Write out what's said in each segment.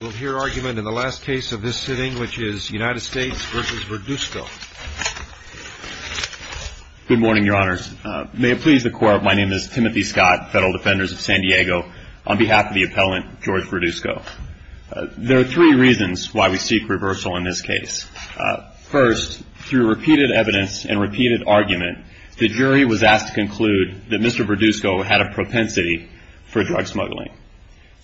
We'll hear argument in the last case of this sitting, which is United States v. Verduzco. Good morning, Your Honors. May it please the Court, my name is Timothy Scott, Federal Defenders of San Diego, on behalf of the appellant, George Verduzco. There are three reasons why we seek reversal in this case. First, through repeated evidence and repeated argument, the jury was asked to conclude that Mr. Verduzco had a propensity for drug smuggling.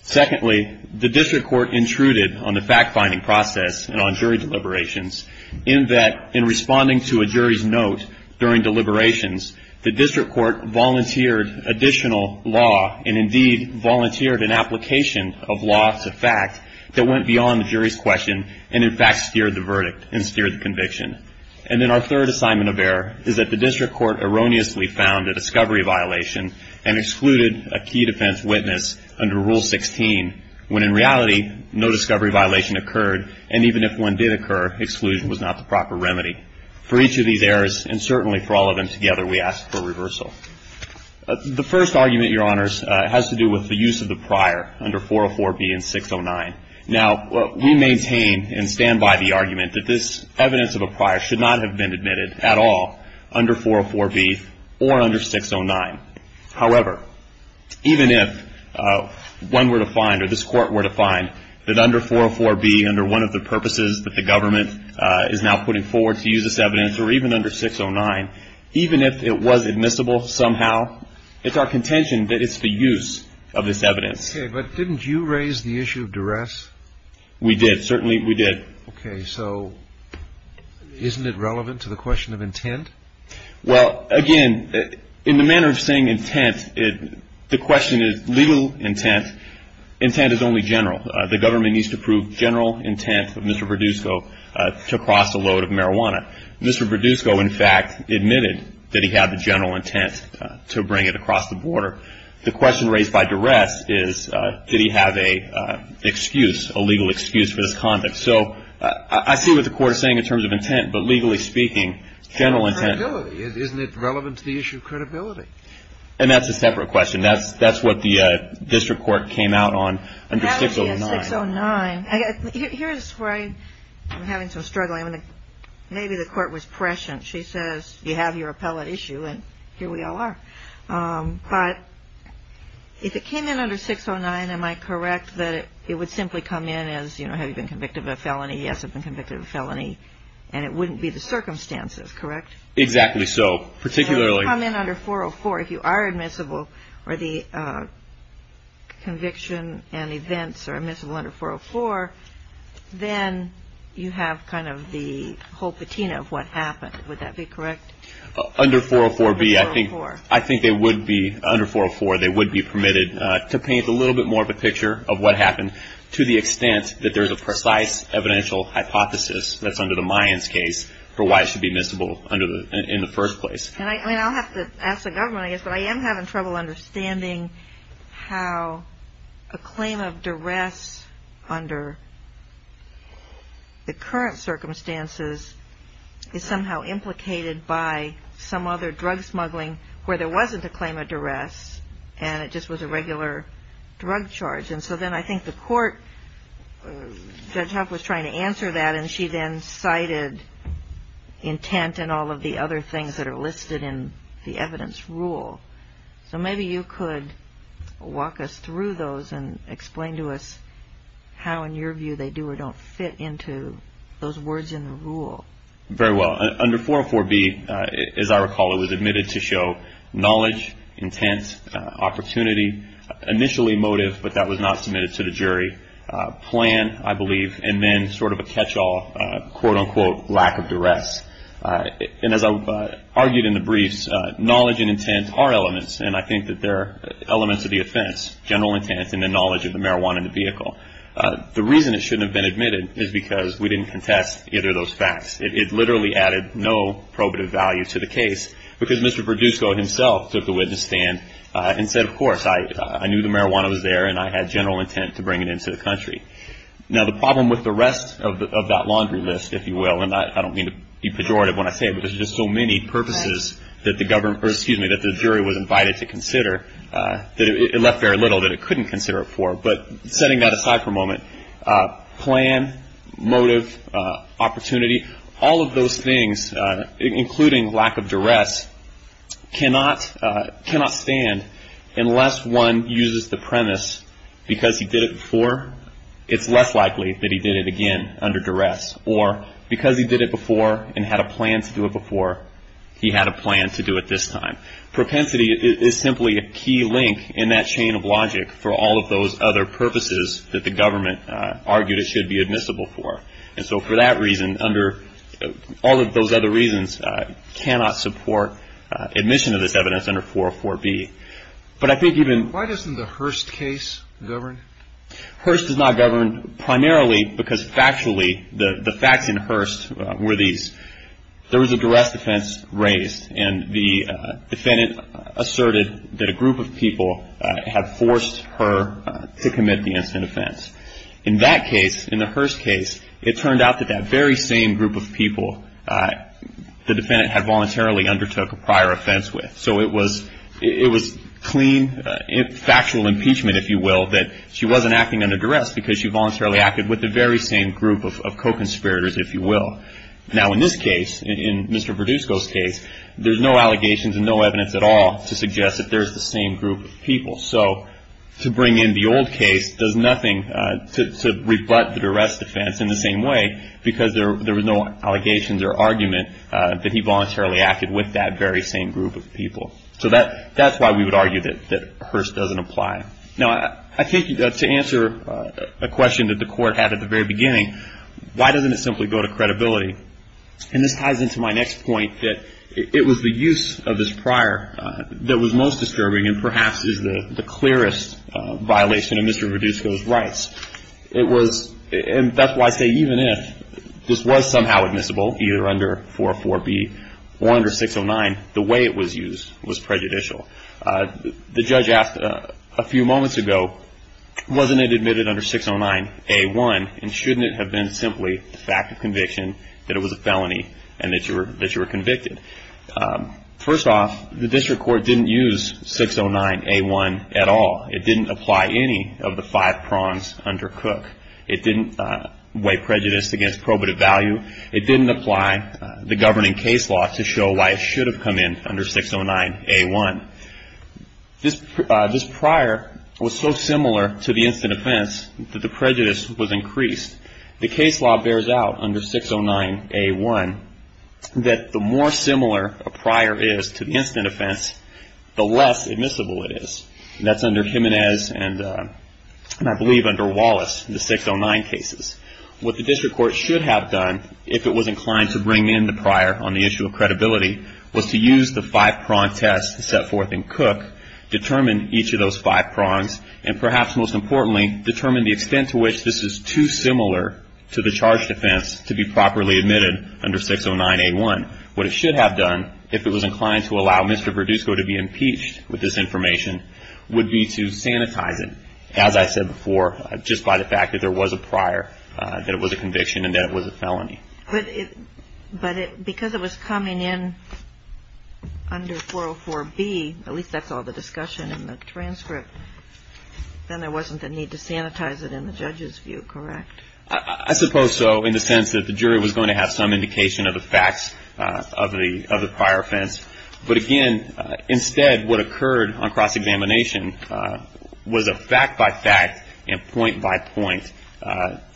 Secondly, the district court intruded on the fact-finding process and on jury deliberations in that, in responding to a jury's note during deliberations, the district court volunteered additional law and, indeed, volunteered an application of law to fact that went beyond the jury's question and, in fact, steered the verdict and steered the conviction. And then our third assignment of error is that the district court erroneously found a discovery violation and excluded a key defense witness under Rule 16 when, in reality, no discovery violation occurred and, even if one did occur, exclusion was not the proper remedy. For each of these errors, and certainly for all of them together, we ask for reversal. The first argument, Your Honors, has to do with the use of the prior under 404B and 609. Now, we maintain and stand by the argument that this evidence of a prior should not have been admitted at all under 404B or under 609. However, even if one were to find, or this court were to find, that under 404B, under one of the purposes that the government is now putting forward to use this evidence, or even under 609, even if it was admissible somehow, it's our contention that it's the use of this evidence. Okay, but didn't you raise the issue of duress? We did. Certainly we did. Okay, so isn't it relevant to the question of intent? Well, again, in the manner of saying intent, the question is legal intent. Intent is only general. The government needs to prove general intent of Mr. Produsco to cross a load of marijuana. Mr. Produsco, in fact, admitted that he had the general intent to bring it across the border. The question raised by duress is did he have an excuse, a legal excuse for this conduct. So I see what the court is saying in terms of intent, but legally speaking, general intent. And credibility. Isn't it relevant to the issue of credibility? And that's a separate question. That's what the district court came out on under 609. Here's where I'm having some struggling. Maybe the court was prescient. She says you have your appellate issue, and here we all are. But if it came in under 609, am I correct that it would simply come in as, you know, have you been convicted of a felony? Yes, I've been convicted of a felony. And it wouldn't be the circumstances, correct? Exactly so. Particularly. If you come in under 404, if you are admissible, or the conviction and events are admissible under 404, then you have kind of the whole patina of what happened. Would that be correct? Under 404B, I think they would be, under 404, they would be permitted to paint a little bit more of a picture of what happened, to the extent that there's a precise evidential hypothesis that's under the Mayans' case for why it should be admissible in the first place. And I'll have to ask the government, I guess, but I am having trouble understanding how a claim of duress under the current circumstances is somehow implicated by some other drug smuggling where there wasn't a claim of duress and it just was a regular drug charge. And so then I think the court, Judge Huff was trying to answer that, and she then cited intent and all of the other things that are listed in the evidence rule. So maybe you could walk us through those and explain to us how, in your view, they do or don't fit into those words in the rule. Very well. Under 404B, as I recall, it was admitted to show knowledge, intent, opportunity, initially motive, but that was not submitted to the jury, plan, I believe, and then sort of a catch-all, quote-unquote, lack of duress. And as I argued in the briefs, knowledge and intent are elements, and I think that they're elements of the offense, general intent, and the knowledge of the marijuana in the vehicle. The reason it shouldn't have been admitted is because we didn't contest either of those facts. It literally added no probative value to the case because Mr. Produsco himself took the witness stand and said, of course, I knew the marijuana was there, and I had general intent to bring it into the country. Now, the problem with the rest of that laundry list, if you will, and I don't mean to be pejorative when I say it, but there's just so many purposes that the jury was invited to consider that it left very little that it couldn't consider it for. But setting that aside for a moment, plan, motive, opportunity, all of those things, including lack of duress, cannot stand unless one uses the premise, because he did it before, it's less likely that he did it again under duress, or because he did it before and had a plan to do it before, he had a plan to do it this time. Propensity is simply a key link in that chain of logic for all of those other purposes that the government argued it should be admissible for. And so for that reason, under all of those other reasons, cannot support admission of this evidence under 404B. But I think even... Why doesn't the Hearst case govern? Hearst does not govern primarily because factually the facts in Hearst were these. There was a duress defense raised, and the defendant asserted that a group of people had forced her to commit the innocent offense. In that case, in the Hearst case, it turned out that that very same group of people, the defendant had voluntarily undertook a prior offense with. So it was clean, factual impeachment, if you will, that she wasn't acting under duress because she voluntarily acted with the very same group of co-conspirators, if you will. Now, in this case, in Mr. Produsko's case, there's no allegations and no evidence at all to suggest that there's the same group of people. So to bring in the old case does nothing to rebut the duress defense in the same way because there was no allegations or argument that he voluntarily acted with that very same group of people. So that's why we would argue that Hearst doesn't apply. Now, I think to answer a question that the court had at the very beginning, why doesn't it simply go to credibility? And this ties into my next point that it was the use of this prior that was most disturbing and perhaps is the clearest violation of Mr. Produsko's rights. It was – and that's why I say even if this was somehow admissible, either under 404B or under 609, the way it was used was prejudicial. The judge asked a few moments ago, wasn't it admitted under 609A1 and shouldn't it have been simply the fact of conviction that it was a felony and that you were convicted? First off, the district court didn't use 609A1 at all. It didn't apply any of the five prongs under Cook. It didn't weigh prejudice against probative value. It didn't apply the governing case law to show why it should have come in under 609A1. This prior was so similar to the instant offense that the prejudice was increased. The case law bears out under 609A1 that the more similar a prior is to the instant offense, the less admissible it is. That's under Jimenez and I believe under Wallace, the 609 cases. What the district court should have done if it was inclined to bring in the prior on the issue of credibility was to use the five prong test set forth in Cook, determine each of those five prongs, and perhaps most importantly, determine the extent to which this is too similar to the charged offense to be properly admitted under 609A1. What it should have done if it was inclined to allow Mr. Verdusco to be impeached with this information would be to sanitize it, as I said before, just by the fact that there was a prior, But because it was coming in under 404B, at least that's all the discussion in the transcript, then there wasn't the need to sanitize it in the judge's view, correct? I suppose so in the sense that the jury was going to have some indication of the facts of the prior offense. But again, instead what occurred on cross-examination was a fact-by-fact and point-by-point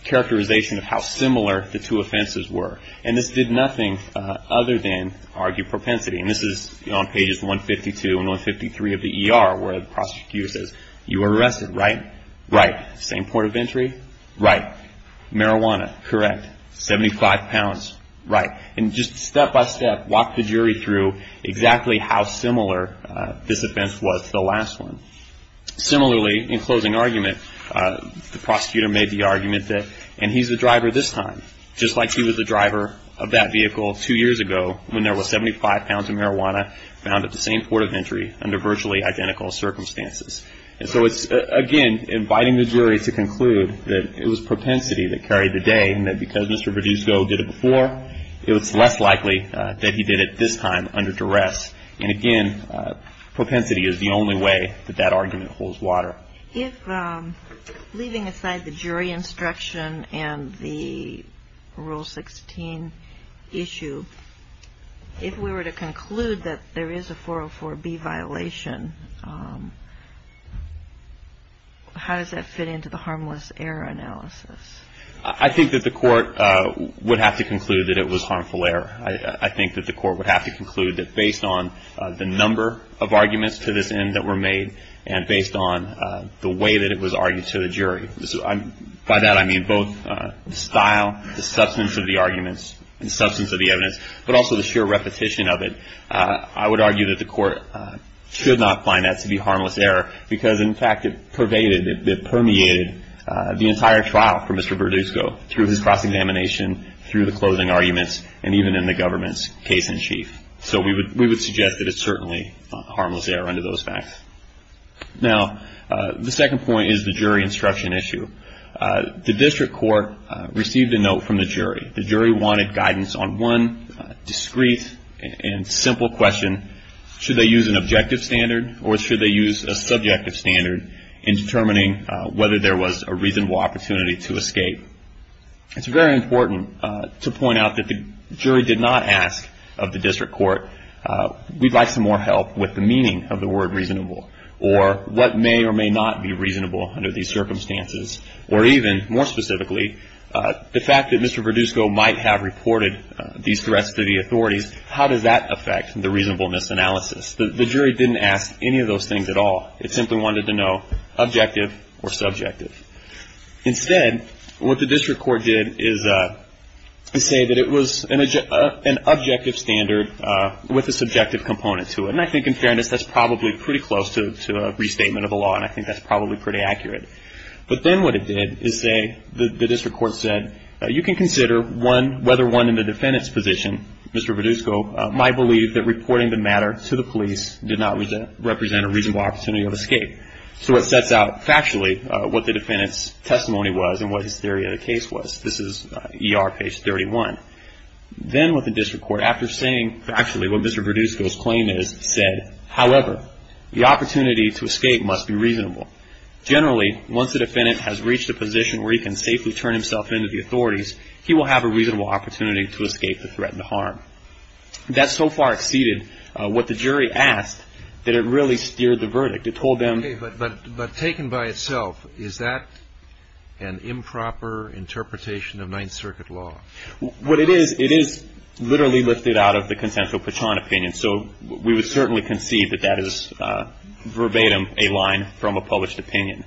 characterization of how similar the two offenses were. And this did nothing other than argue propensity. And this is on pages 152 and 153 of the ER where the prosecutor says, You were arrested, right? Right. Same point of entry? Right. Marijuana? Correct. 75 pounds? Right. And just step-by-step walk the jury through exactly how similar this offense was to the last one. Similarly, in closing argument, the prosecutor made the argument that, And he's the driver this time, just like he was the driver of that vehicle two years ago when there was 75 pounds of marijuana found at the same port of entry under virtually identical circumstances. And so it's, again, inviting the jury to conclude that it was propensity that carried the day and that because Mr. Berdusco did it before, it was less likely that he did it this time under duress. And, again, propensity is the only way that that argument holds water. If, leaving aside the jury instruction and the Rule 16 issue, if we were to conclude that there is a 404B violation, how does that fit into the harmless error analysis? I think that the court would have to conclude that it was harmful error. I think that the court would have to conclude that based on the number of arguments to this end that were made and based on the way that it was argued to the jury, by that I mean both the style, the substance of the arguments, the substance of the evidence, but also the sheer repetition of it, I would argue that the court should not find that to be harmless error because, in fact, it pervaded, it permeated the entire trial for Mr. Berdusco through his cross-examination, through the closing arguments, and even in the government's case-in-chief. So we would suggest that it's certainly harmless error under those facts. Now, the second point is the jury instruction issue. The district court received a note from the jury. The jury wanted guidance on one discreet and simple question. Should they use an objective standard or should they use a subjective standard in determining whether there was a reasonable opportunity to escape? It's very important to point out that the jury did not ask of the district court, we'd like some more help with the meaning of the word reasonable or what may or may not be reasonable under these circumstances, or even, more specifically, the fact that Mr. Berdusco might have reported these threats to the authorities, how does that affect the reasonableness analysis? The jury didn't ask any of those things at all. It simply wanted to know objective or subjective. Instead, what the district court did is say that it was an objective standard with a subjective component to it. And I think, in fairness, that's probably pretty close to a restatement of the law, and I think that's probably pretty accurate. But then what it did is say, the district court said, you can consider whether one in the defendant's position, Mr. Berdusco, might believe that reporting the matter to the police did not represent a reasonable opportunity of escape. So it sets out factually what the defendant's testimony was and what his theory of the case was. This is ER page 31. Then what the district court, after saying factually what Mr. Berdusco's claim is, said, however, the opportunity to escape must be reasonable. Generally, once the defendant has reached a position where he can safely turn himself in to the authorities, he will have a reasonable opportunity to escape the threat and the harm. That so far exceeded what the jury asked that it really steered the verdict. It told them. But taken by itself, is that an improper interpretation of Ninth Circuit law? What it is, it is literally lifted out of the consensual Pachon opinion. So we would certainly concede that that is verbatim a line from a published opinion.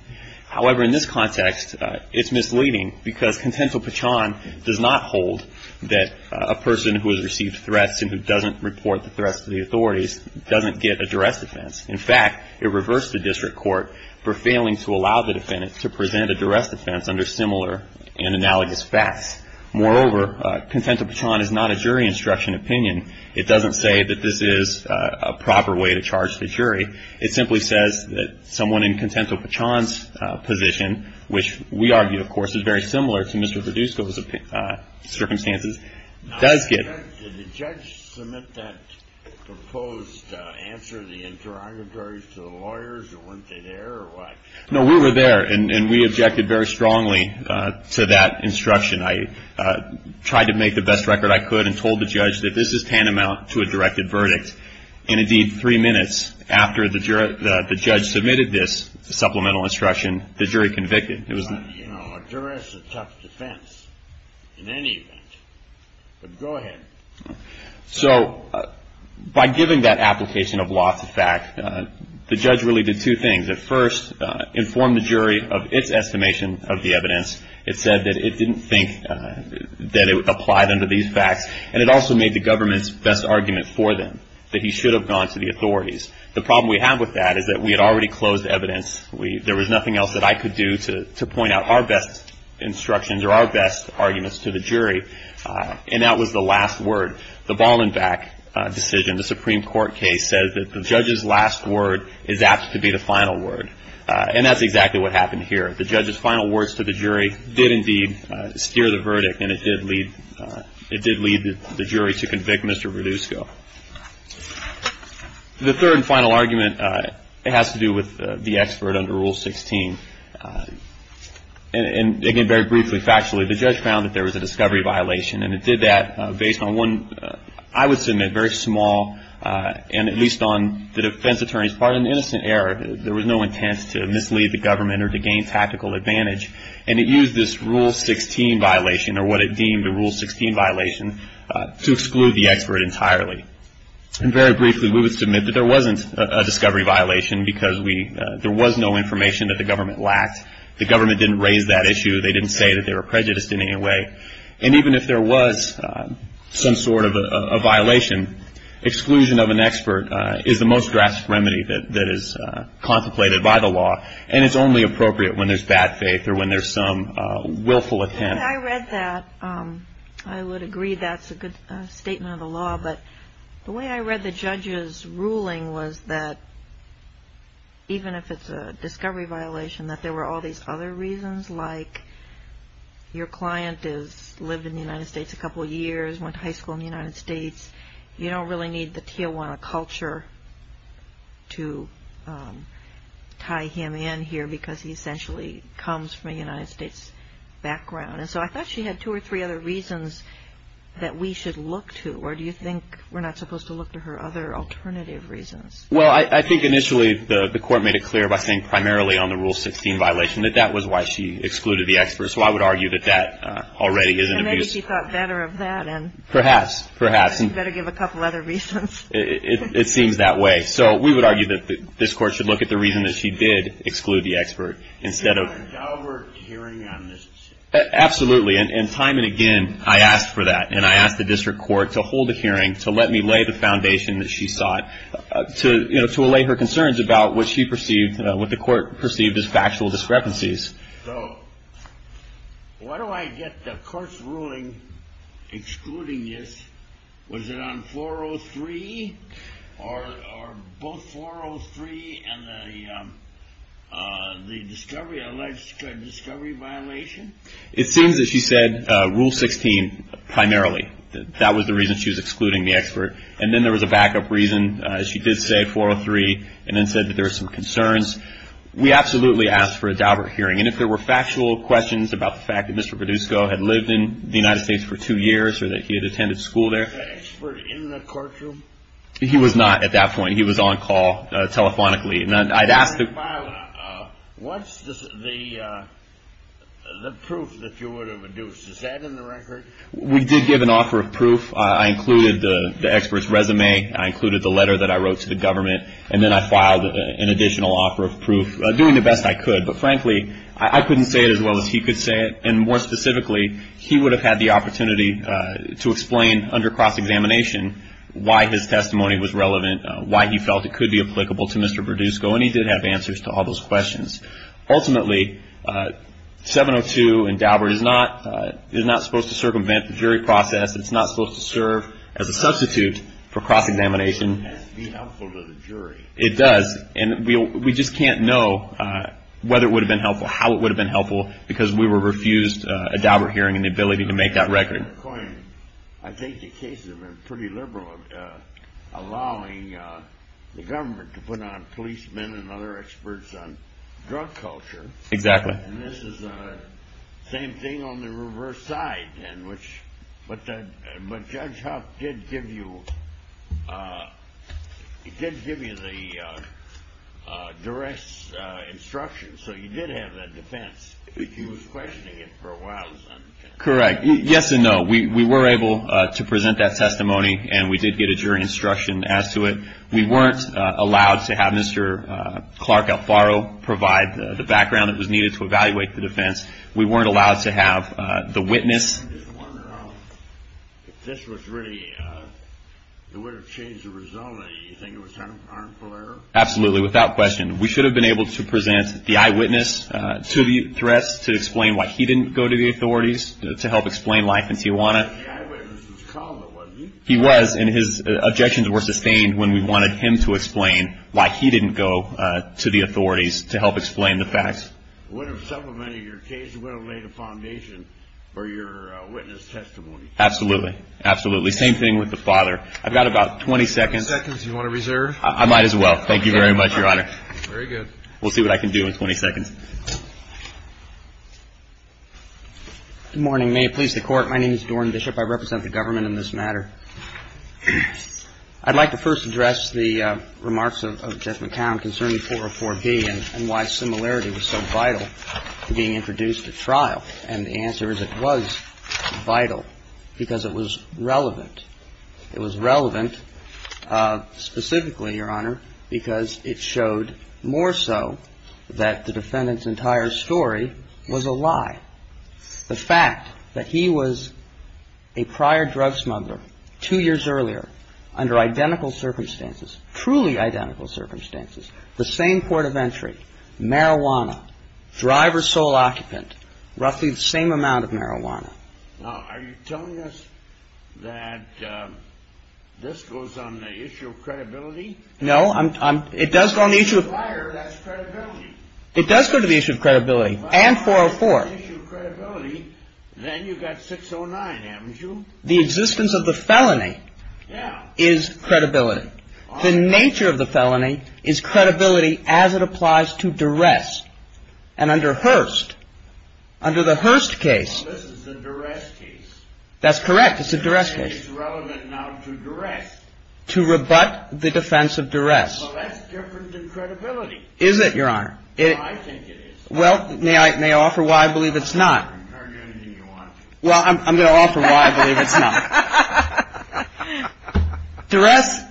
However, in this context, it's misleading because consensual Pachon does not hold that a person who has received threats and who doesn't report the threats to the authorities doesn't get a duress defense. In fact, it reversed the district court for failing to allow the defendant to present a duress defense under similar and analogous facts. Moreover, consensual Pachon is not a jury instruction opinion. It doesn't say that this is a proper way to charge the jury. It simply says that someone in consensual Pachon's position, which we argue, of course, is very similar to Mr. Berdusco's circumstances, does get. Did the judge submit that proposed answer, the interrogatories to the lawyers, or weren't they there, or what? No, we were there, and we objected very strongly to that instruction. I tried to make the best record I could and told the judge that this is tantamount to a directed verdict. And, indeed, three minutes after the judge submitted this supplemental instruction, the jury convicted. A duress is a tough defense in any event, but go ahead. So by giving that application of loss of fact, the judge really did two things. At first, inform the jury of its estimation of the evidence. It said that it didn't think that it applied under these facts, and it also made the government's best argument for them that he should have gone to the authorities. The problem we have with that is that we had already closed evidence. There was nothing else that I could do to point out our best instructions or our best arguments to the jury, and that was the last word. The Ballenbach decision, the Supreme Court case, says that the judge's last word is apt to be the final word, and that's exactly what happened here. The judge's final words to the jury did, indeed, steer the verdict, and it did lead the jury to convict Mr. Berdusco. The third and final argument has to do with the expert under Rule 16. And again, very briefly, factually, the judge found that there was a discovery violation, and it did that based on one, I would submit, very small, and at least on the defense attorney's part, an innocent error. There was no intent to mislead the government or to gain tactical advantage, and it used this Rule 16 violation or what it deemed a Rule 16 violation to exclude the expert entirely. And very briefly, we would submit that there wasn't a discovery violation because there was no information that the government lacked. The government didn't raise that issue. They didn't say that they were prejudiced in any way. And even if there was some sort of a violation, exclusion of an expert is the most drastic remedy that is contemplated by the law, and it's only appropriate when there's bad faith or when there's some willful intent. I read that. I would agree that's a good statement of the law, but the way I read the judge's ruling was that even if it's a discovery violation, that there were all these other reasons like your client has lived in the United States a couple of years, went to high school in the United States. You don't really need the Tijuana culture to tie him in here because he essentially comes from a United States background. And so I thought she had two or three other reasons that we should look to, or do you think we're not supposed to look to her other alternative reasons? Well, I think initially the Court made it clear by saying primarily on the Rule 16 violation that that was why she excluded the expert. So I would argue that that already is an abuse. And maybe she thought better of that. Perhaps. Perhaps. She better give a couple other reasons. It seems that way. So we would argue that this Court should look at the reason that she did exclude the expert instead of… She had a downward hearing on this. Absolutely. And time and again I asked for that, and I asked the district court to hold a hearing to let me lay the foundation that she sought to allay her concerns about what she perceived, what the Court perceived as factual discrepancies. So why do I get the Court's ruling excluding this? Was it on 403 or both 403 and the discovery violation? It seems that she said Rule 16 primarily. That was the reason she was excluding the expert. And then there was a backup reason. She did say 403 and then said that there were some concerns. We absolutely asked for a downward hearing. And if there were factual questions about the fact that Mr. Produsco had lived in the United States for two years or that he had attended school there… Was the expert in the courtroom? He was not at that point. He was on call telephonically. And I'd asked… What's the proof that you would have induced? Is that in the record? We did give an offer of proof. I included the expert's resume. I included the letter that I wrote to the government. And then I filed an additional offer of proof, doing the best I could. But, frankly, I couldn't say it as well as he could say it. And, more specifically, he would have had the opportunity to explain under cross-examination why his testimony was relevant, why he felt it could be applicable to Mr. Produsco. And he did have answers to all those questions. Ultimately, 702 in Daubert is not supposed to circumvent the jury process. It's not supposed to serve as a substitute for cross-examination. It has to be helpful to the jury. It does. And we just can't know whether it would have been helpful, how it would have been helpful, because we were refused a Daubert hearing and the ability to make that record. I think the cases have been pretty liberal, allowing the government to put on policemen and other experts on drug culture. Exactly. And this is the same thing on the reverse side. But Judge Huff did give you the direct instructions. So you did have that defense. He was questioning it for a while. Correct. Yes and no. We were able to present that testimony, and we did get a jury instruction as to it. We weren't allowed to have Mr. Clark Alfaro provide the background that was needed to evaluate the defense. We weren't allowed to have the witness. I'm just wondering if this was really, it would have changed the result. Do you think it was an harmful error? Absolutely, without question. We should have been able to present the eyewitness to the threats to explain why he didn't go to the authorities to help explain life in Tijuana. The eyewitness was called, though, wasn't he? He was, and his objections were sustained when we wanted him to explain why he didn't go to the authorities to help explain the facts. It would have supplemented your case. It would have laid a foundation for your witness testimony. Absolutely. Absolutely. Same thing with the father. I've got about 20 seconds. Do you want to reserve? I might as well. Thank you very much, Your Honor. Very good. We'll see what I can do in 20 seconds. Good morning. May it please the Court. My name is Doran Bishop. I represent the government in this matter. I'd like to first address the remarks of Judge McCown concerning 404B and why similarity was so vital to being introduced at trial. And the answer is it was vital because it was relevant. It was relevant specifically, Your Honor, because it showed more so that the defendant's entire story was a lie. The fact that he was a prior drug smuggler two years earlier under identical circumstances, truly identical circumstances, the same port of entry, marijuana, driver sole occupant, roughly the same amount of marijuana. Now, are you telling us that this goes on the issue of credibility? No. It does go on the issue of credibility. It does go to the issue of credibility and 404. Well, if it's on the issue of credibility, then you've got 609, haven't you? The existence of the felony is credibility. The nature of the felony is credibility as it applies to duress. And under Hearst, under the Hearst case. Well, this is a duress case. That's correct. It's a duress case. It's relevant now to duress. To rebut the defense of duress. Well, that's different than credibility. Is it, Your Honor? I think it is. Well, may I offer why I believe it's not? You can argue anything you want. Well, I'm going to offer why I believe it's not. Duress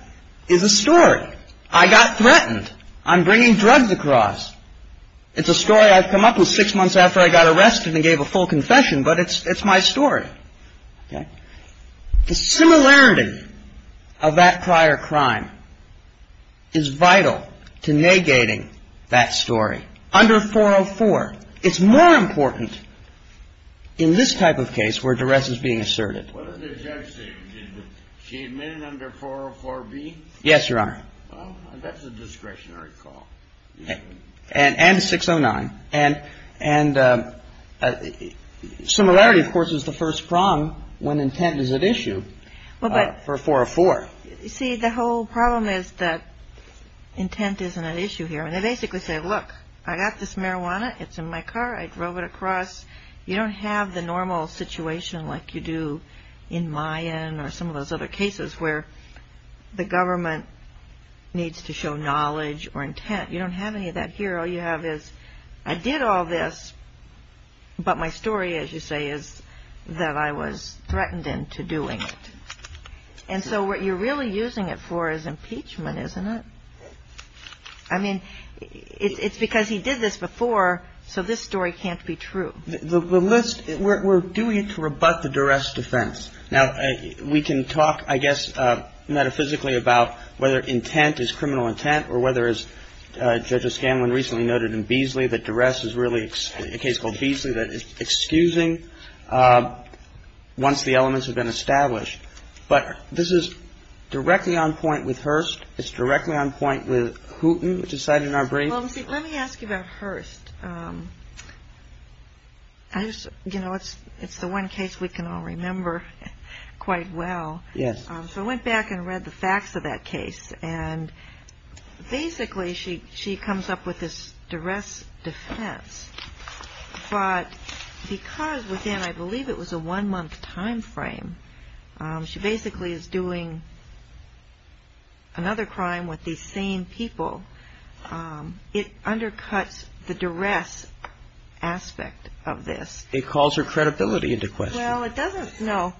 is a story. I got threatened on bringing drugs across. It's a story I've come up with six months after I got arrested and gave a full confession, but it's my story. Okay. The similarity of that prior crime is vital to negating that story. Under 404, it's more important in this type of case where duress is being asserted. What did the judge say? Did she admit it under 404B? Yes, Your Honor. Well, that's a discretionary call. Okay. And 609. And similarity, of course, is the first prong when intent is at issue for 404. See, the whole problem is that intent isn't at issue here. And they basically say, look, I got this marijuana. It's in my car. I drove it across. You don't have the normal situation like you do in Mayan or some of those other cases where the government needs to show knowledge or intent. You don't have any of that here. All you have is I did all this, but my story, as you say, is that I was threatened into doing it. And so what you're really using it for is impeachment, isn't it? I mean, it's because he did this before, so this story can't be true. The list, we're doing it to rebut the duress defense. Now, we can talk, I guess, metaphysically about whether intent is criminal intent or whether, as Judge O'Scanlan recently noted in Beasley, that duress is really a case called Beasley that is excusing once the elements have been established. But this is directly on point with Hearst. It's directly on point with Hooten, which is cited in our brief. Well, let me ask you about Hearst. You know, it's the one case we can all remember quite well. Yes. So I went back and read the facts of that case, and basically she comes up with this duress defense. But because, again, I believe it was a one-month time frame, she basically is doing another crime with these same people. It undercuts the duress aspect of this. It calls her credibility into question. Well, it doesn't. No.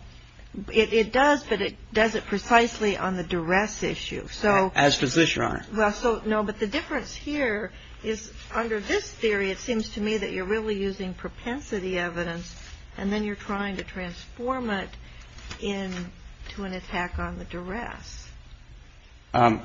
It does, but it does it precisely on the duress issue. As does this, Your Honor. No, but the difference here is under this theory, it seems to me that you're really using propensity evidence, and then you're trying to transform it into an attack on the duress. I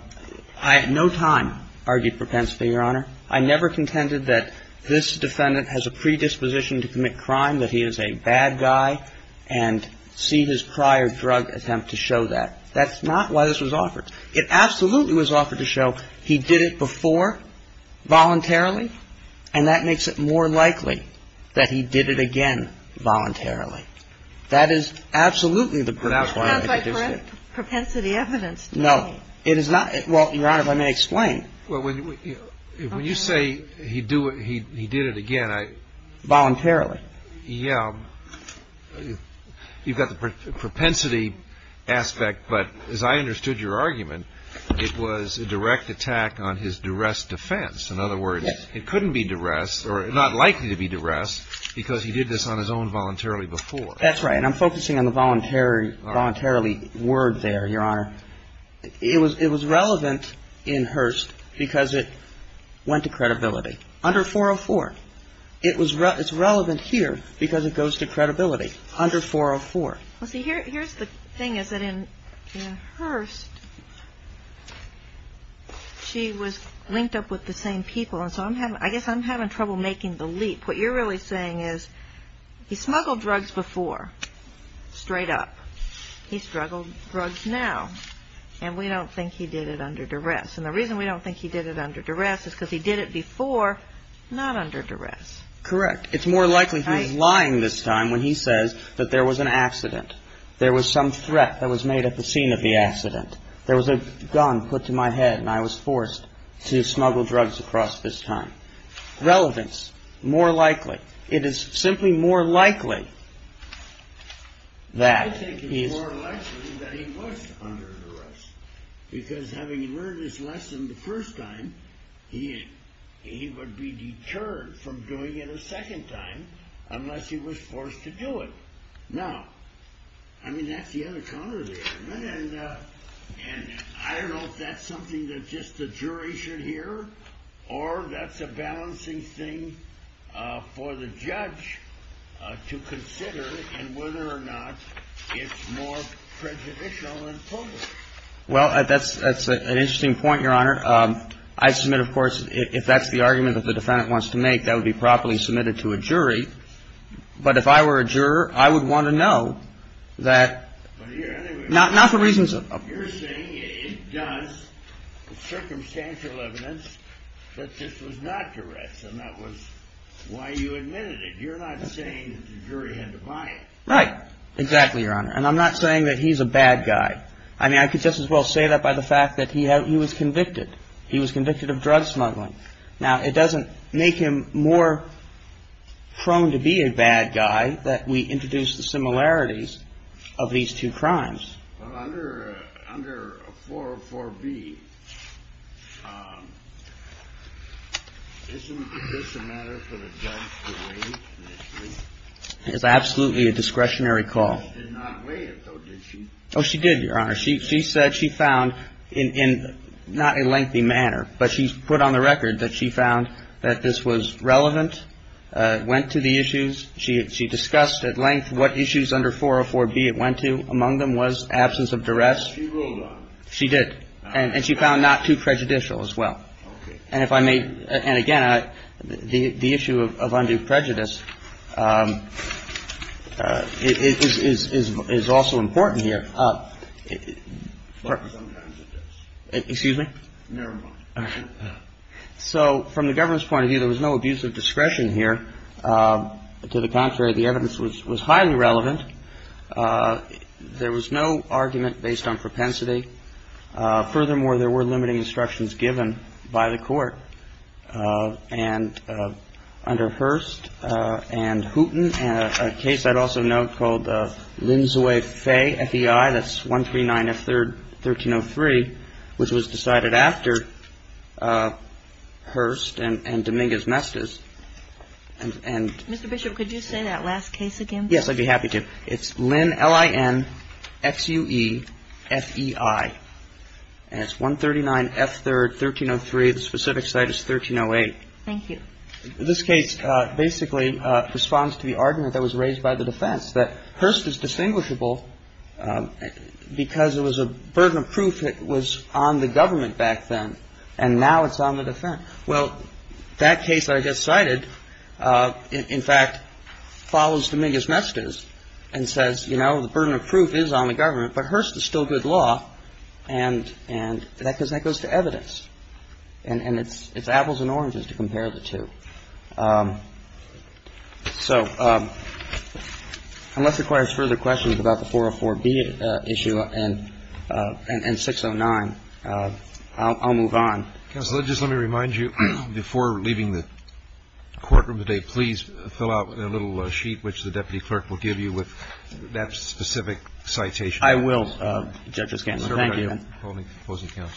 at no time argued propensity, Your Honor. I never contended that this defendant has a predisposition to commit crime, that he is a bad guy, and see his prior drug attempt to show that. That's not why this was offered. It absolutely was offered to show he did it before voluntarily, and that makes it more likely that he did it again voluntarily. That is absolutely the purpose why I introduced it. It's not propensity evidence to me. No. It is not. Well, Your Honor, if I may explain. Well, when you say he did it again, I. Voluntarily. Yeah. You've got the propensity aspect, but as I understood your argument, it was a direct attack on his duress defense. In other words, it couldn't be duress, or not likely to be duress, because he did this on his own voluntarily before. That's right. And I'm focusing on the voluntarily word there, Your Honor. It was relevant in Hearst because it went to credibility under 404. It's relevant here because it goes to credibility under 404. Well, see, here's the thing is that in Hearst, she was linked up with the same people, and so I guess I'm having trouble making the leap. What you're really saying is he smuggled drugs before, straight up. He smuggled drugs now, and we don't think he did it under duress. And the reason we don't think he did it under duress is because he did it before, not under duress. Correct. It's more likely he was lying this time when he says that there was an accident. There was some threat that was made at the scene of the accident. There was a gun put to my head, and I was forced to smuggle drugs across this time. Relevance. More likely. It is simply more likely that he is. I think it's more likely that he was under duress because having learned his lesson the first time, he would be deterred from doing it a second time unless he was forced to do it. Now, I mean, that's the other counter there, isn't it? And I don't know if that's something that just the jury should hear, or that's a balancing thing for the judge to consider in whether or not it's more prejudicial and public. Well, that's an interesting point, Your Honor. I submit, of course, if that's the argument that the defendant wants to make, that would be properly submitted to a jury. But if I were a juror, I would want to know that. Not for reasons of. You're saying it does. Circumstantial evidence that this was not duress, and that was why you admitted it. You're not saying that the jury had to buy it. Right. Exactly, Your Honor. And I'm not saying that he's a bad guy. I mean, I could just as well say that by the fact that he was convicted. He was convicted of drug smuggling. Now, it doesn't make him more prone to be a bad guy that we introduce the similarities of these two crimes. Under 404B, isn't this a matter for the judge to weigh initially? It's absolutely a discretionary call. She did not weigh it, though, did she? Oh, she did, Your Honor. She said she found in not a lengthy manner, but she put on the record that she found that this was relevant, went to the issues. She discussed at length what issues under 404B it went to. Among them was absence of duress. She ruled on it. She did. And she found not too prejudicial as well. Okay. And if I may, and again, the issue of undue prejudice is also important here. Sometimes it is. Excuse me? Never mind. So from the government's point of view, there was no abuse of discretion here. To the contrary, the evidence was highly relevant. There was no argument based on propensity. Furthermore, there were limiting instructions given by the Court. And under Hearst and Hooten, a case I'd also note called Linzui Fei, F-E-I, that's 139F-1303, which was decided after Hearst and Dominguez-Mestiz. And Mr. Bishop, could you say that last case again, please? Yes, I'd be happy to. Okay. It's Lin, L-I-N, X-U-E, F-E-I. And it's 139F-3rd, 1303. The specific site is 1308. Thank you. This case basically responds to the argument that was raised by the defense, that Hearst is distinguishable because it was a burden of proof that was on the government back then, and now it's on the defense. Well, that case I just cited, in fact, follows Dominguez-Mestiz and says, you know, the burden of proof is on the government, but Hearst is still good law, and that goes to evidence. And it's apples and oranges to compare the two. So unless it requires further questions about the 404B issue and 609, I'll move on. Counsel, just let me remind you, before leaving the courtroom today, please fill out a little sheet which the deputy clerk will give you with that specific citation. I will, Judge Wisconsin. Thank you.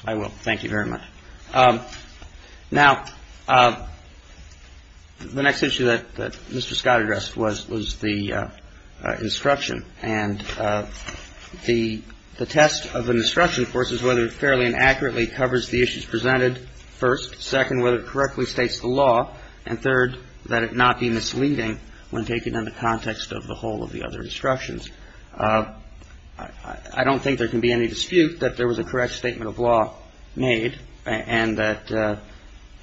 I will. Thank you very much. Now, the next issue that Mr. Scott addressed was the instruction. And the test of an instruction, of course, is whether it fairly and accurately covers the issues presented, first. Second, whether it correctly states the law. And third, that it not be misleading when taken in the context of the whole of the other instructions. I don't think there can be any dispute that there was a correct statement of law made and that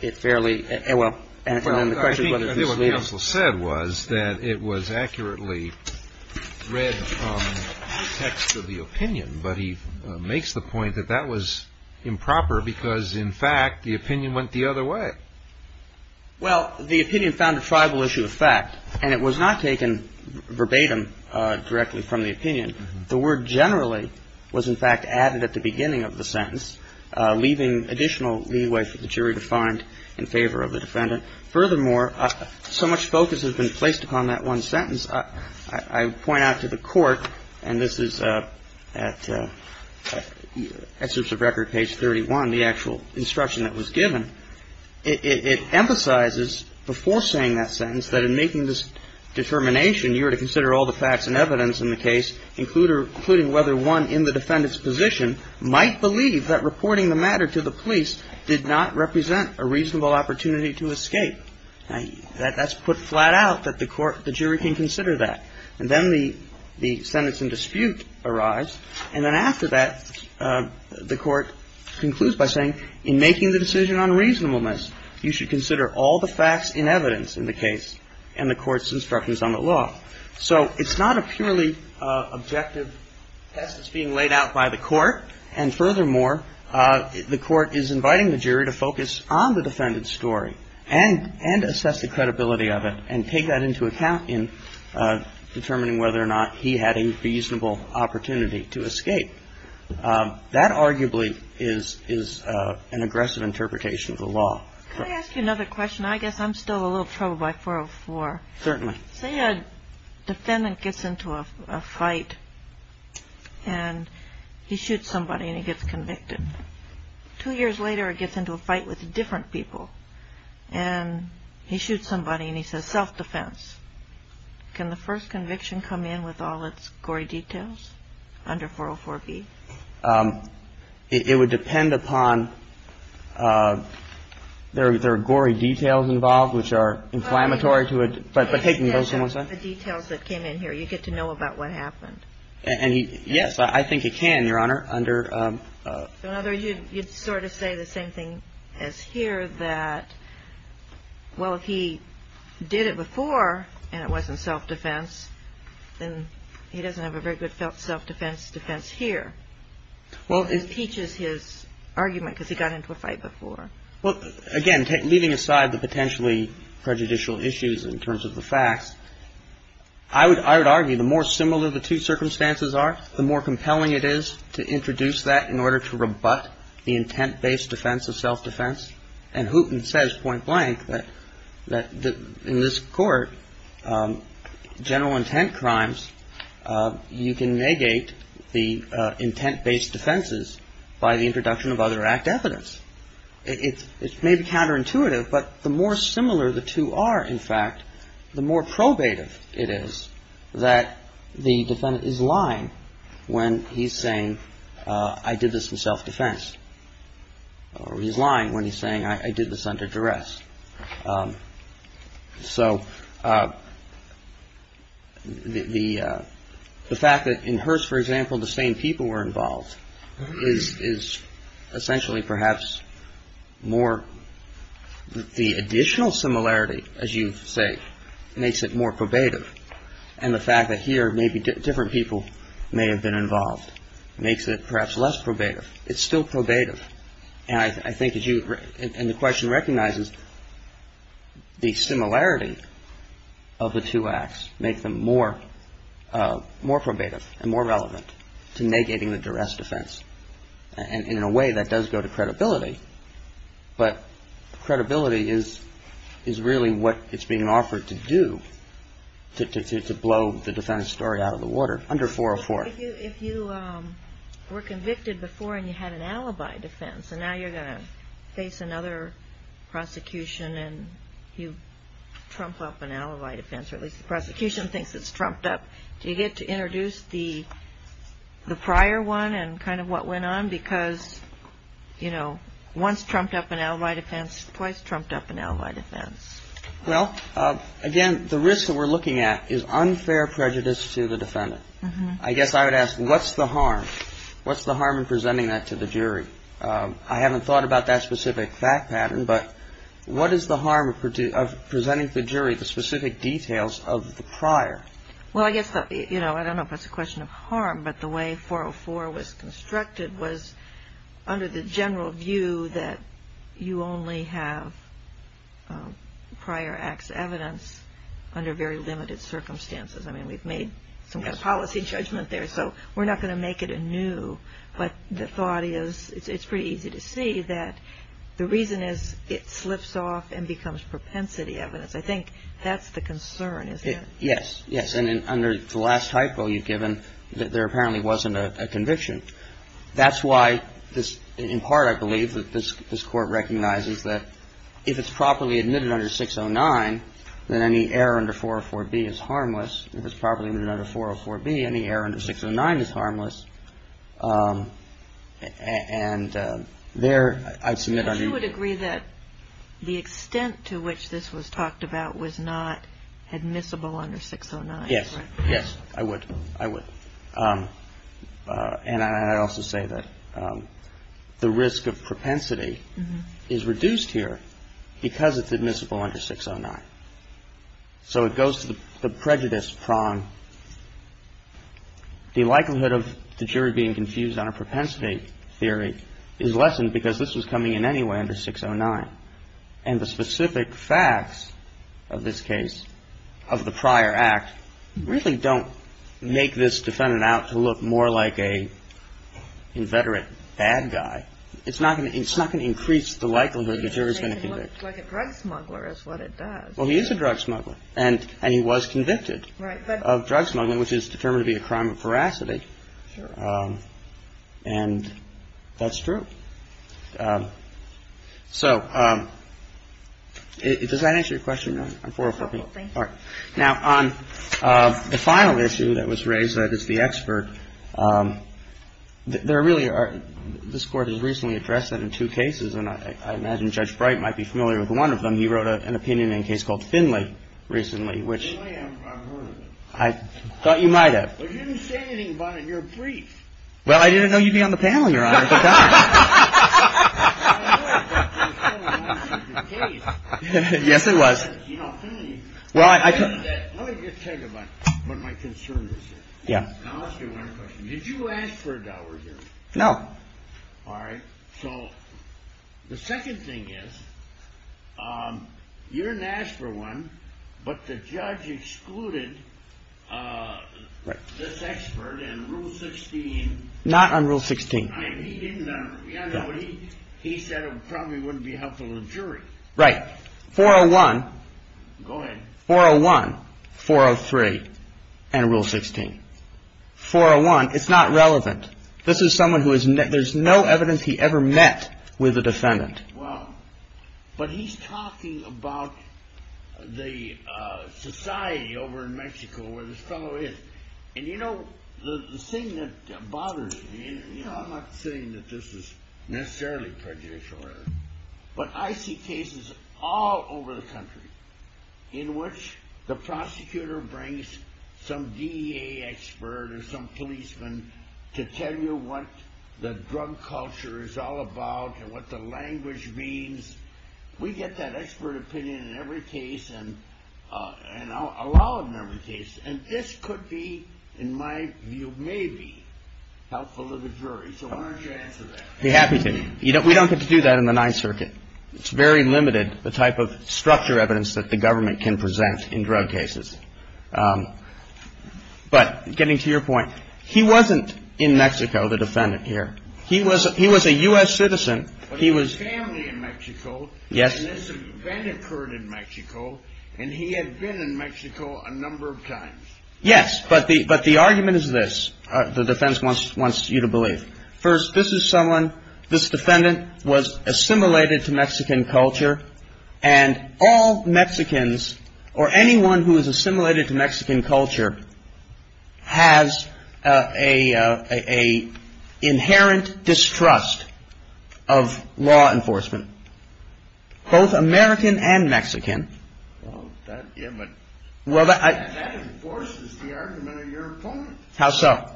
it fairly — well, and then the question I think what the counsel said was that it was accurately read from the text of the opinion, but he makes the point that that was improper because, in fact, the opinion went the other way. Well, the opinion found a tribal issue of fact, and it was not taken verbatim directly from the opinion. The word generally was, in fact, added at the beginning of the sentence, leaving additional leeway for the jury to find in favor of the defendant. Furthermore, so much focus has been placed upon that one sentence. I point out to the Court, and this is at Excerpts of Record, page 31, the actual instruction that was given. It emphasizes before saying that sentence that in making this determination, you are to consider all the facts and evidence in the case, including whether one in the defendant's position might believe that reporting the matter to the police did not represent a reasonable opportunity to escape. Now, that's put flat out that the jury can consider that. And then the sentence in dispute arrives, and then after that, the Court concludes by saying, in making the decision on reasonableness, you should consider all the facts and evidence in the case and the Court's instructions on the law. So it's not a purely objective test that's being laid out by the Court, and furthermore, the Court is inviting the jury to focus on the defendant's story and assess the credibility of it and take that into account in determining whether or not he had a reasonable opportunity to escape. That arguably is an aggressive interpretation of the law. Can I ask you another question? I guess I'm still a little troubled by 404. Certainly. Say a defendant gets into a fight, and he shoots somebody, and he gets convicted. Two years later, he gets into a fight with different people, and he shoots somebody, and he says self-defense. Can the first conviction come in with all its gory details under 404B? It would depend upon the gory details involved, which are inflammatory to it, but the details that came in here, you get to know about what happened. And yes, I think it can, Your Honor, under ---- You'd sort of say the same thing as here that, well, if he did it before and it wasn't self-defense, then he doesn't have a very good self-defense defense here. Well, it teaches his argument because he got into a fight before. Well, again, leaving aside the potentially prejudicial issues in terms of the facts, I would argue the more similar the two circumstances are, the more compelling it is to introduce that in order to rebut the intent-based defense of self-defense. And Hooten says point blank that in this Court, general intent crimes, you can negate the intent-based defenses by the introduction of other act evidence. It may be counterintuitive, but the more similar the two are, in fact, the more probative it is that the defendant is lying when he's saying, I did this in self-defense, or he's lying when he's saying, I did this under duress. So the fact that in Hearst, for example, the same people were involved is essentially perhaps more ---- the additional similarity, as you say, makes it more probative. And the fact that here maybe different people may have been involved makes it perhaps less probative. It's still probative. And I think as you ---- and the question recognizes the similarity of the two acts makes them more probative and more relevant to negating the duress defense. And in a way, that does go to credibility. But credibility is really what it's being offered to do to blow the defendant's story out of the water under 404. If you were convicted before and you had an alibi defense, and now you're going to face another prosecution and you trump up an alibi defense, or at least the prosecution thinks it's trumped up, do you get to introduce the prior one and kind of what went on? Because, you know, once trumped up an alibi defense, twice trumped up an alibi defense. Well, again, the risk that we're looking at is unfair prejudice to the defendant. I guess I would ask, what's the harm? What's the harm in presenting that to the jury? I haven't thought about that specific fact pattern, but what is the harm of presenting to the jury the specific details of the prior? Well, I guess, you know, I don't know if it's a question of harm, but the way 404 was constructed was under the general view that you only have prior acts evidence under very limited circumstances. I mean, we've made some kind of policy judgment there, so we're not going to make it anew. But the thought is, it's pretty easy to see that the reason is it slips off and becomes propensity evidence. I think that's the concern, isn't it? Yes, yes. And under the last hypo you've given, there apparently wasn't a conviction. That's why, in part, I believe that this Court recognizes that if it's properly admitted under 609, then any error under 404B is harmless. If it's properly admitted under 404B, any error under 609 is harmless. And there, I'd submit under the ---- But you would agree that the extent to which this was talked about was not admissible under 609? Yes. Yes, I would. I would. And I'd also say that the risk of propensity is reduced here because it's admissible under 609. So it goes to the prejudice prong. The likelihood of the jury being confused on a propensity theory is lessened because this was coming in anyway under 609. And the specific facts of this case, of the prior act, really don't make this defendant out to look more like an inveterate bad guy. It's not going to increase the likelihood the jury is going to convict. Like a drug smuggler is what it does. Well, he is a drug smuggler. And he was convicted of drug smuggling, which is determined to be a crime of veracity. And that's true. So does that answer your question? No. I'm 404. Thank you. All right. Now, on the final issue that was raised, that is the expert, there really are ---- This Court has recently addressed that in two cases. And I imagine Judge Bright might be familiar with one of them. He wrote an opinion in a case called Finley recently, which ---- Finley, I've heard of it. I thought you might have. But you didn't say anything about it in your brief. Well, I didn't know you'd be on the panel, Your Honor. Yes, I was. Let me get to what my concern is here. I'll ask you one question. Did you ask for a dower here? No. All right. So the second thing is you didn't ask for one, but the judge excluded this expert in Rule 16. Not on Rule 16. He said it probably wouldn't be helpful to the jury. Right. 401. Go ahead. 401, 403, and Rule 16. 401, it's not relevant. This is someone who is ---- There's no evidence he ever met with a defendant. Well, but he's talking about the society over in Mexico where this fellow is. And you know, the thing that bothers me, and I'm not saying that this is necessarily prejudicial, but I see cases all over the country in which the prosecutor brings some DEA expert or some policeman to tell you what the drug culture is all about and what the language means. We get that expert opinion in every case, and I'll allow it in every case. And this could be, in my view, maybe helpful to the jury. So why don't you answer that? I'd be happy to. We don't get to do that in the Ninth Circuit. It's very limited, the type of structure evidence that the government can present in drug cases. But getting to your point, he wasn't in Mexico, the defendant here. He was a U.S. citizen. He was family in Mexico. Yes. And this event occurred in Mexico, and he had been in Mexico a number of times. Yes, but the argument is this, the defense wants you to believe. First, this is someone, this defendant was assimilated to Mexican culture, and all Mexicans or anyone who is assimilated to Mexican culture has an inherent distrust of law enforcement. Both American and Mexican. Well, that enforces the argument of your opponent. How so?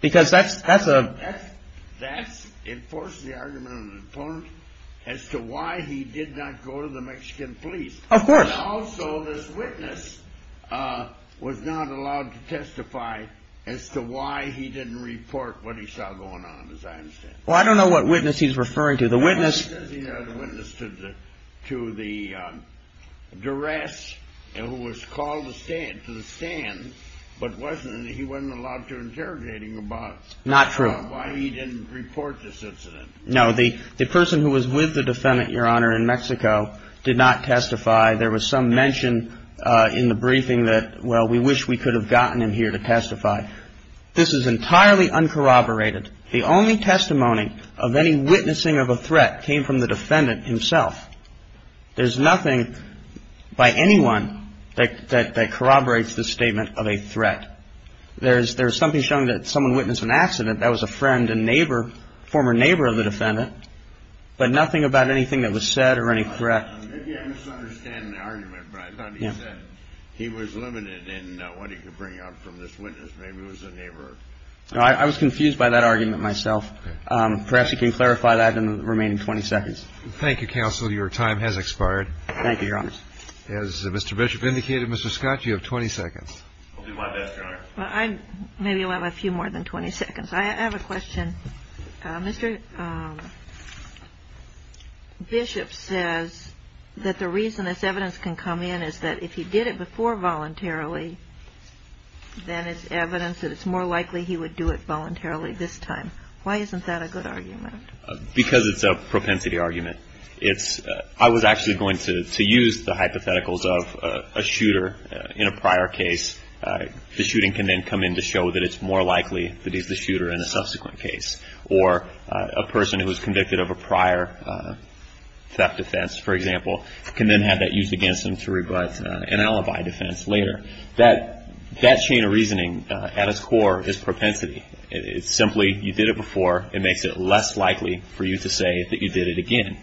Because that's a... That enforces the argument of the opponent as to why he did not go to the Mexican police. Of course. And also, this witness was not allowed to testify as to why he didn't report what he saw going on, as I understand. Well, I don't know what witness he's referring to. The witness to the duress who was called to the stand, but he wasn't allowed to interrogate him about... Not true. ...why he didn't report this incident. No, the person who was with the defendant, Your Honor, in Mexico did not testify. There was some mention in the briefing that, well, we wish we could have gotten him here to testify. This is entirely uncorroborated. The only testimony of any witnessing of a threat came from the defendant himself. There's nothing by anyone that corroborates the statement of a threat. There's something showing that someone witnessed an accident that was a friend, a neighbor, former neighbor of the defendant, but nothing about anything that was said or any threat. Maybe I'm misunderstanding the argument, but I thought he said he was limited in what he could bring up from this witness. Maybe it was a neighbor. I was confused by that argument myself. Perhaps you can clarify that in the remaining 20 seconds. Thank you, counsel. Your time has expired. Thank you, Your Honor. As Mr. Bishop indicated, Mr. Scott, you have 20 seconds. I'll do my best, Your Honor. Maybe I'll have a few more than 20 seconds. I have a question. Mr. Bishop says that the reason this evidence can come in is that if he did it before voluntarily, then it's evidence that it's more likely he would do it voluntarily this time. Why isn't that a good argument? Because it's a propensity argument. I was actually going to use the hypotheticals of a shooter in a prior case. The shooting can then come in to show that it's more likely that he's the shooter in a subsequent case. Or a person who was convicted of a prior theft offense, for example, can then have that used against him to rebut an alibi defense later. That chain of reasoning, at its core, is propensity. It's simply you did it before. It makes it less likely for you to say that you did it again.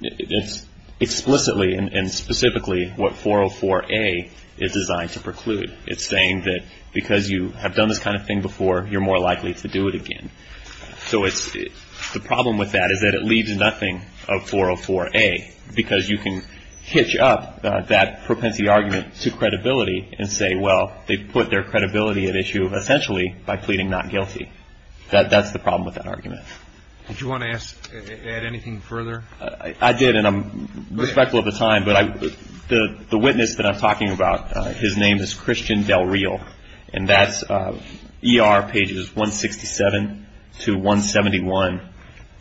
It's explicitly and specifically what 404A is designed to preclude. It's saying that because you have done this kind of thing before, you're more likely to do it again. So the problem with that is that it leaves nothing of 404A, because you can hitch up that propensity argument to credibility and say, well, they put their credibility at issue essentially by pleading not guilty. That's the problem with that argument. Did you want to add anything further? I did, and I'm respectful of the time. But the witness that I'm talking about, his name is Christian Del Real, and that's ER pages 167 to 171.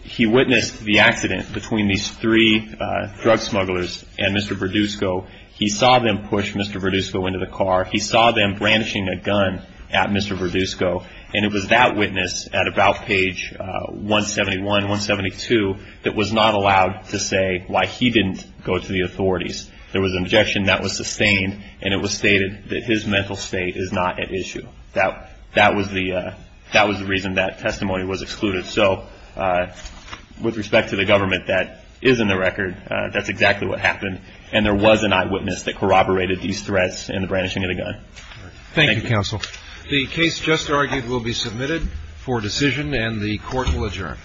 He witnessed the accident between these three drug smugglers and Mr. Verdusco. He saw them push Mr. Verdusco into the car. He saw them brandishing a gun at Mr. Verdusco. And it was that witness at about page 171, 172, that was not allowed to say why he didn't go to the authorities. There was an objection that was sustained, and it was stated that his mental state is not at issue. That was the reason that testimony was excluded. So with respect to the government, that is in the record. That's exactly what happened. And there was an eyewitness that corroborated these threats and the brandishing of the gun. Thank you, Counsel. The case just argued will be submitted for decision, and the Court will adjourn.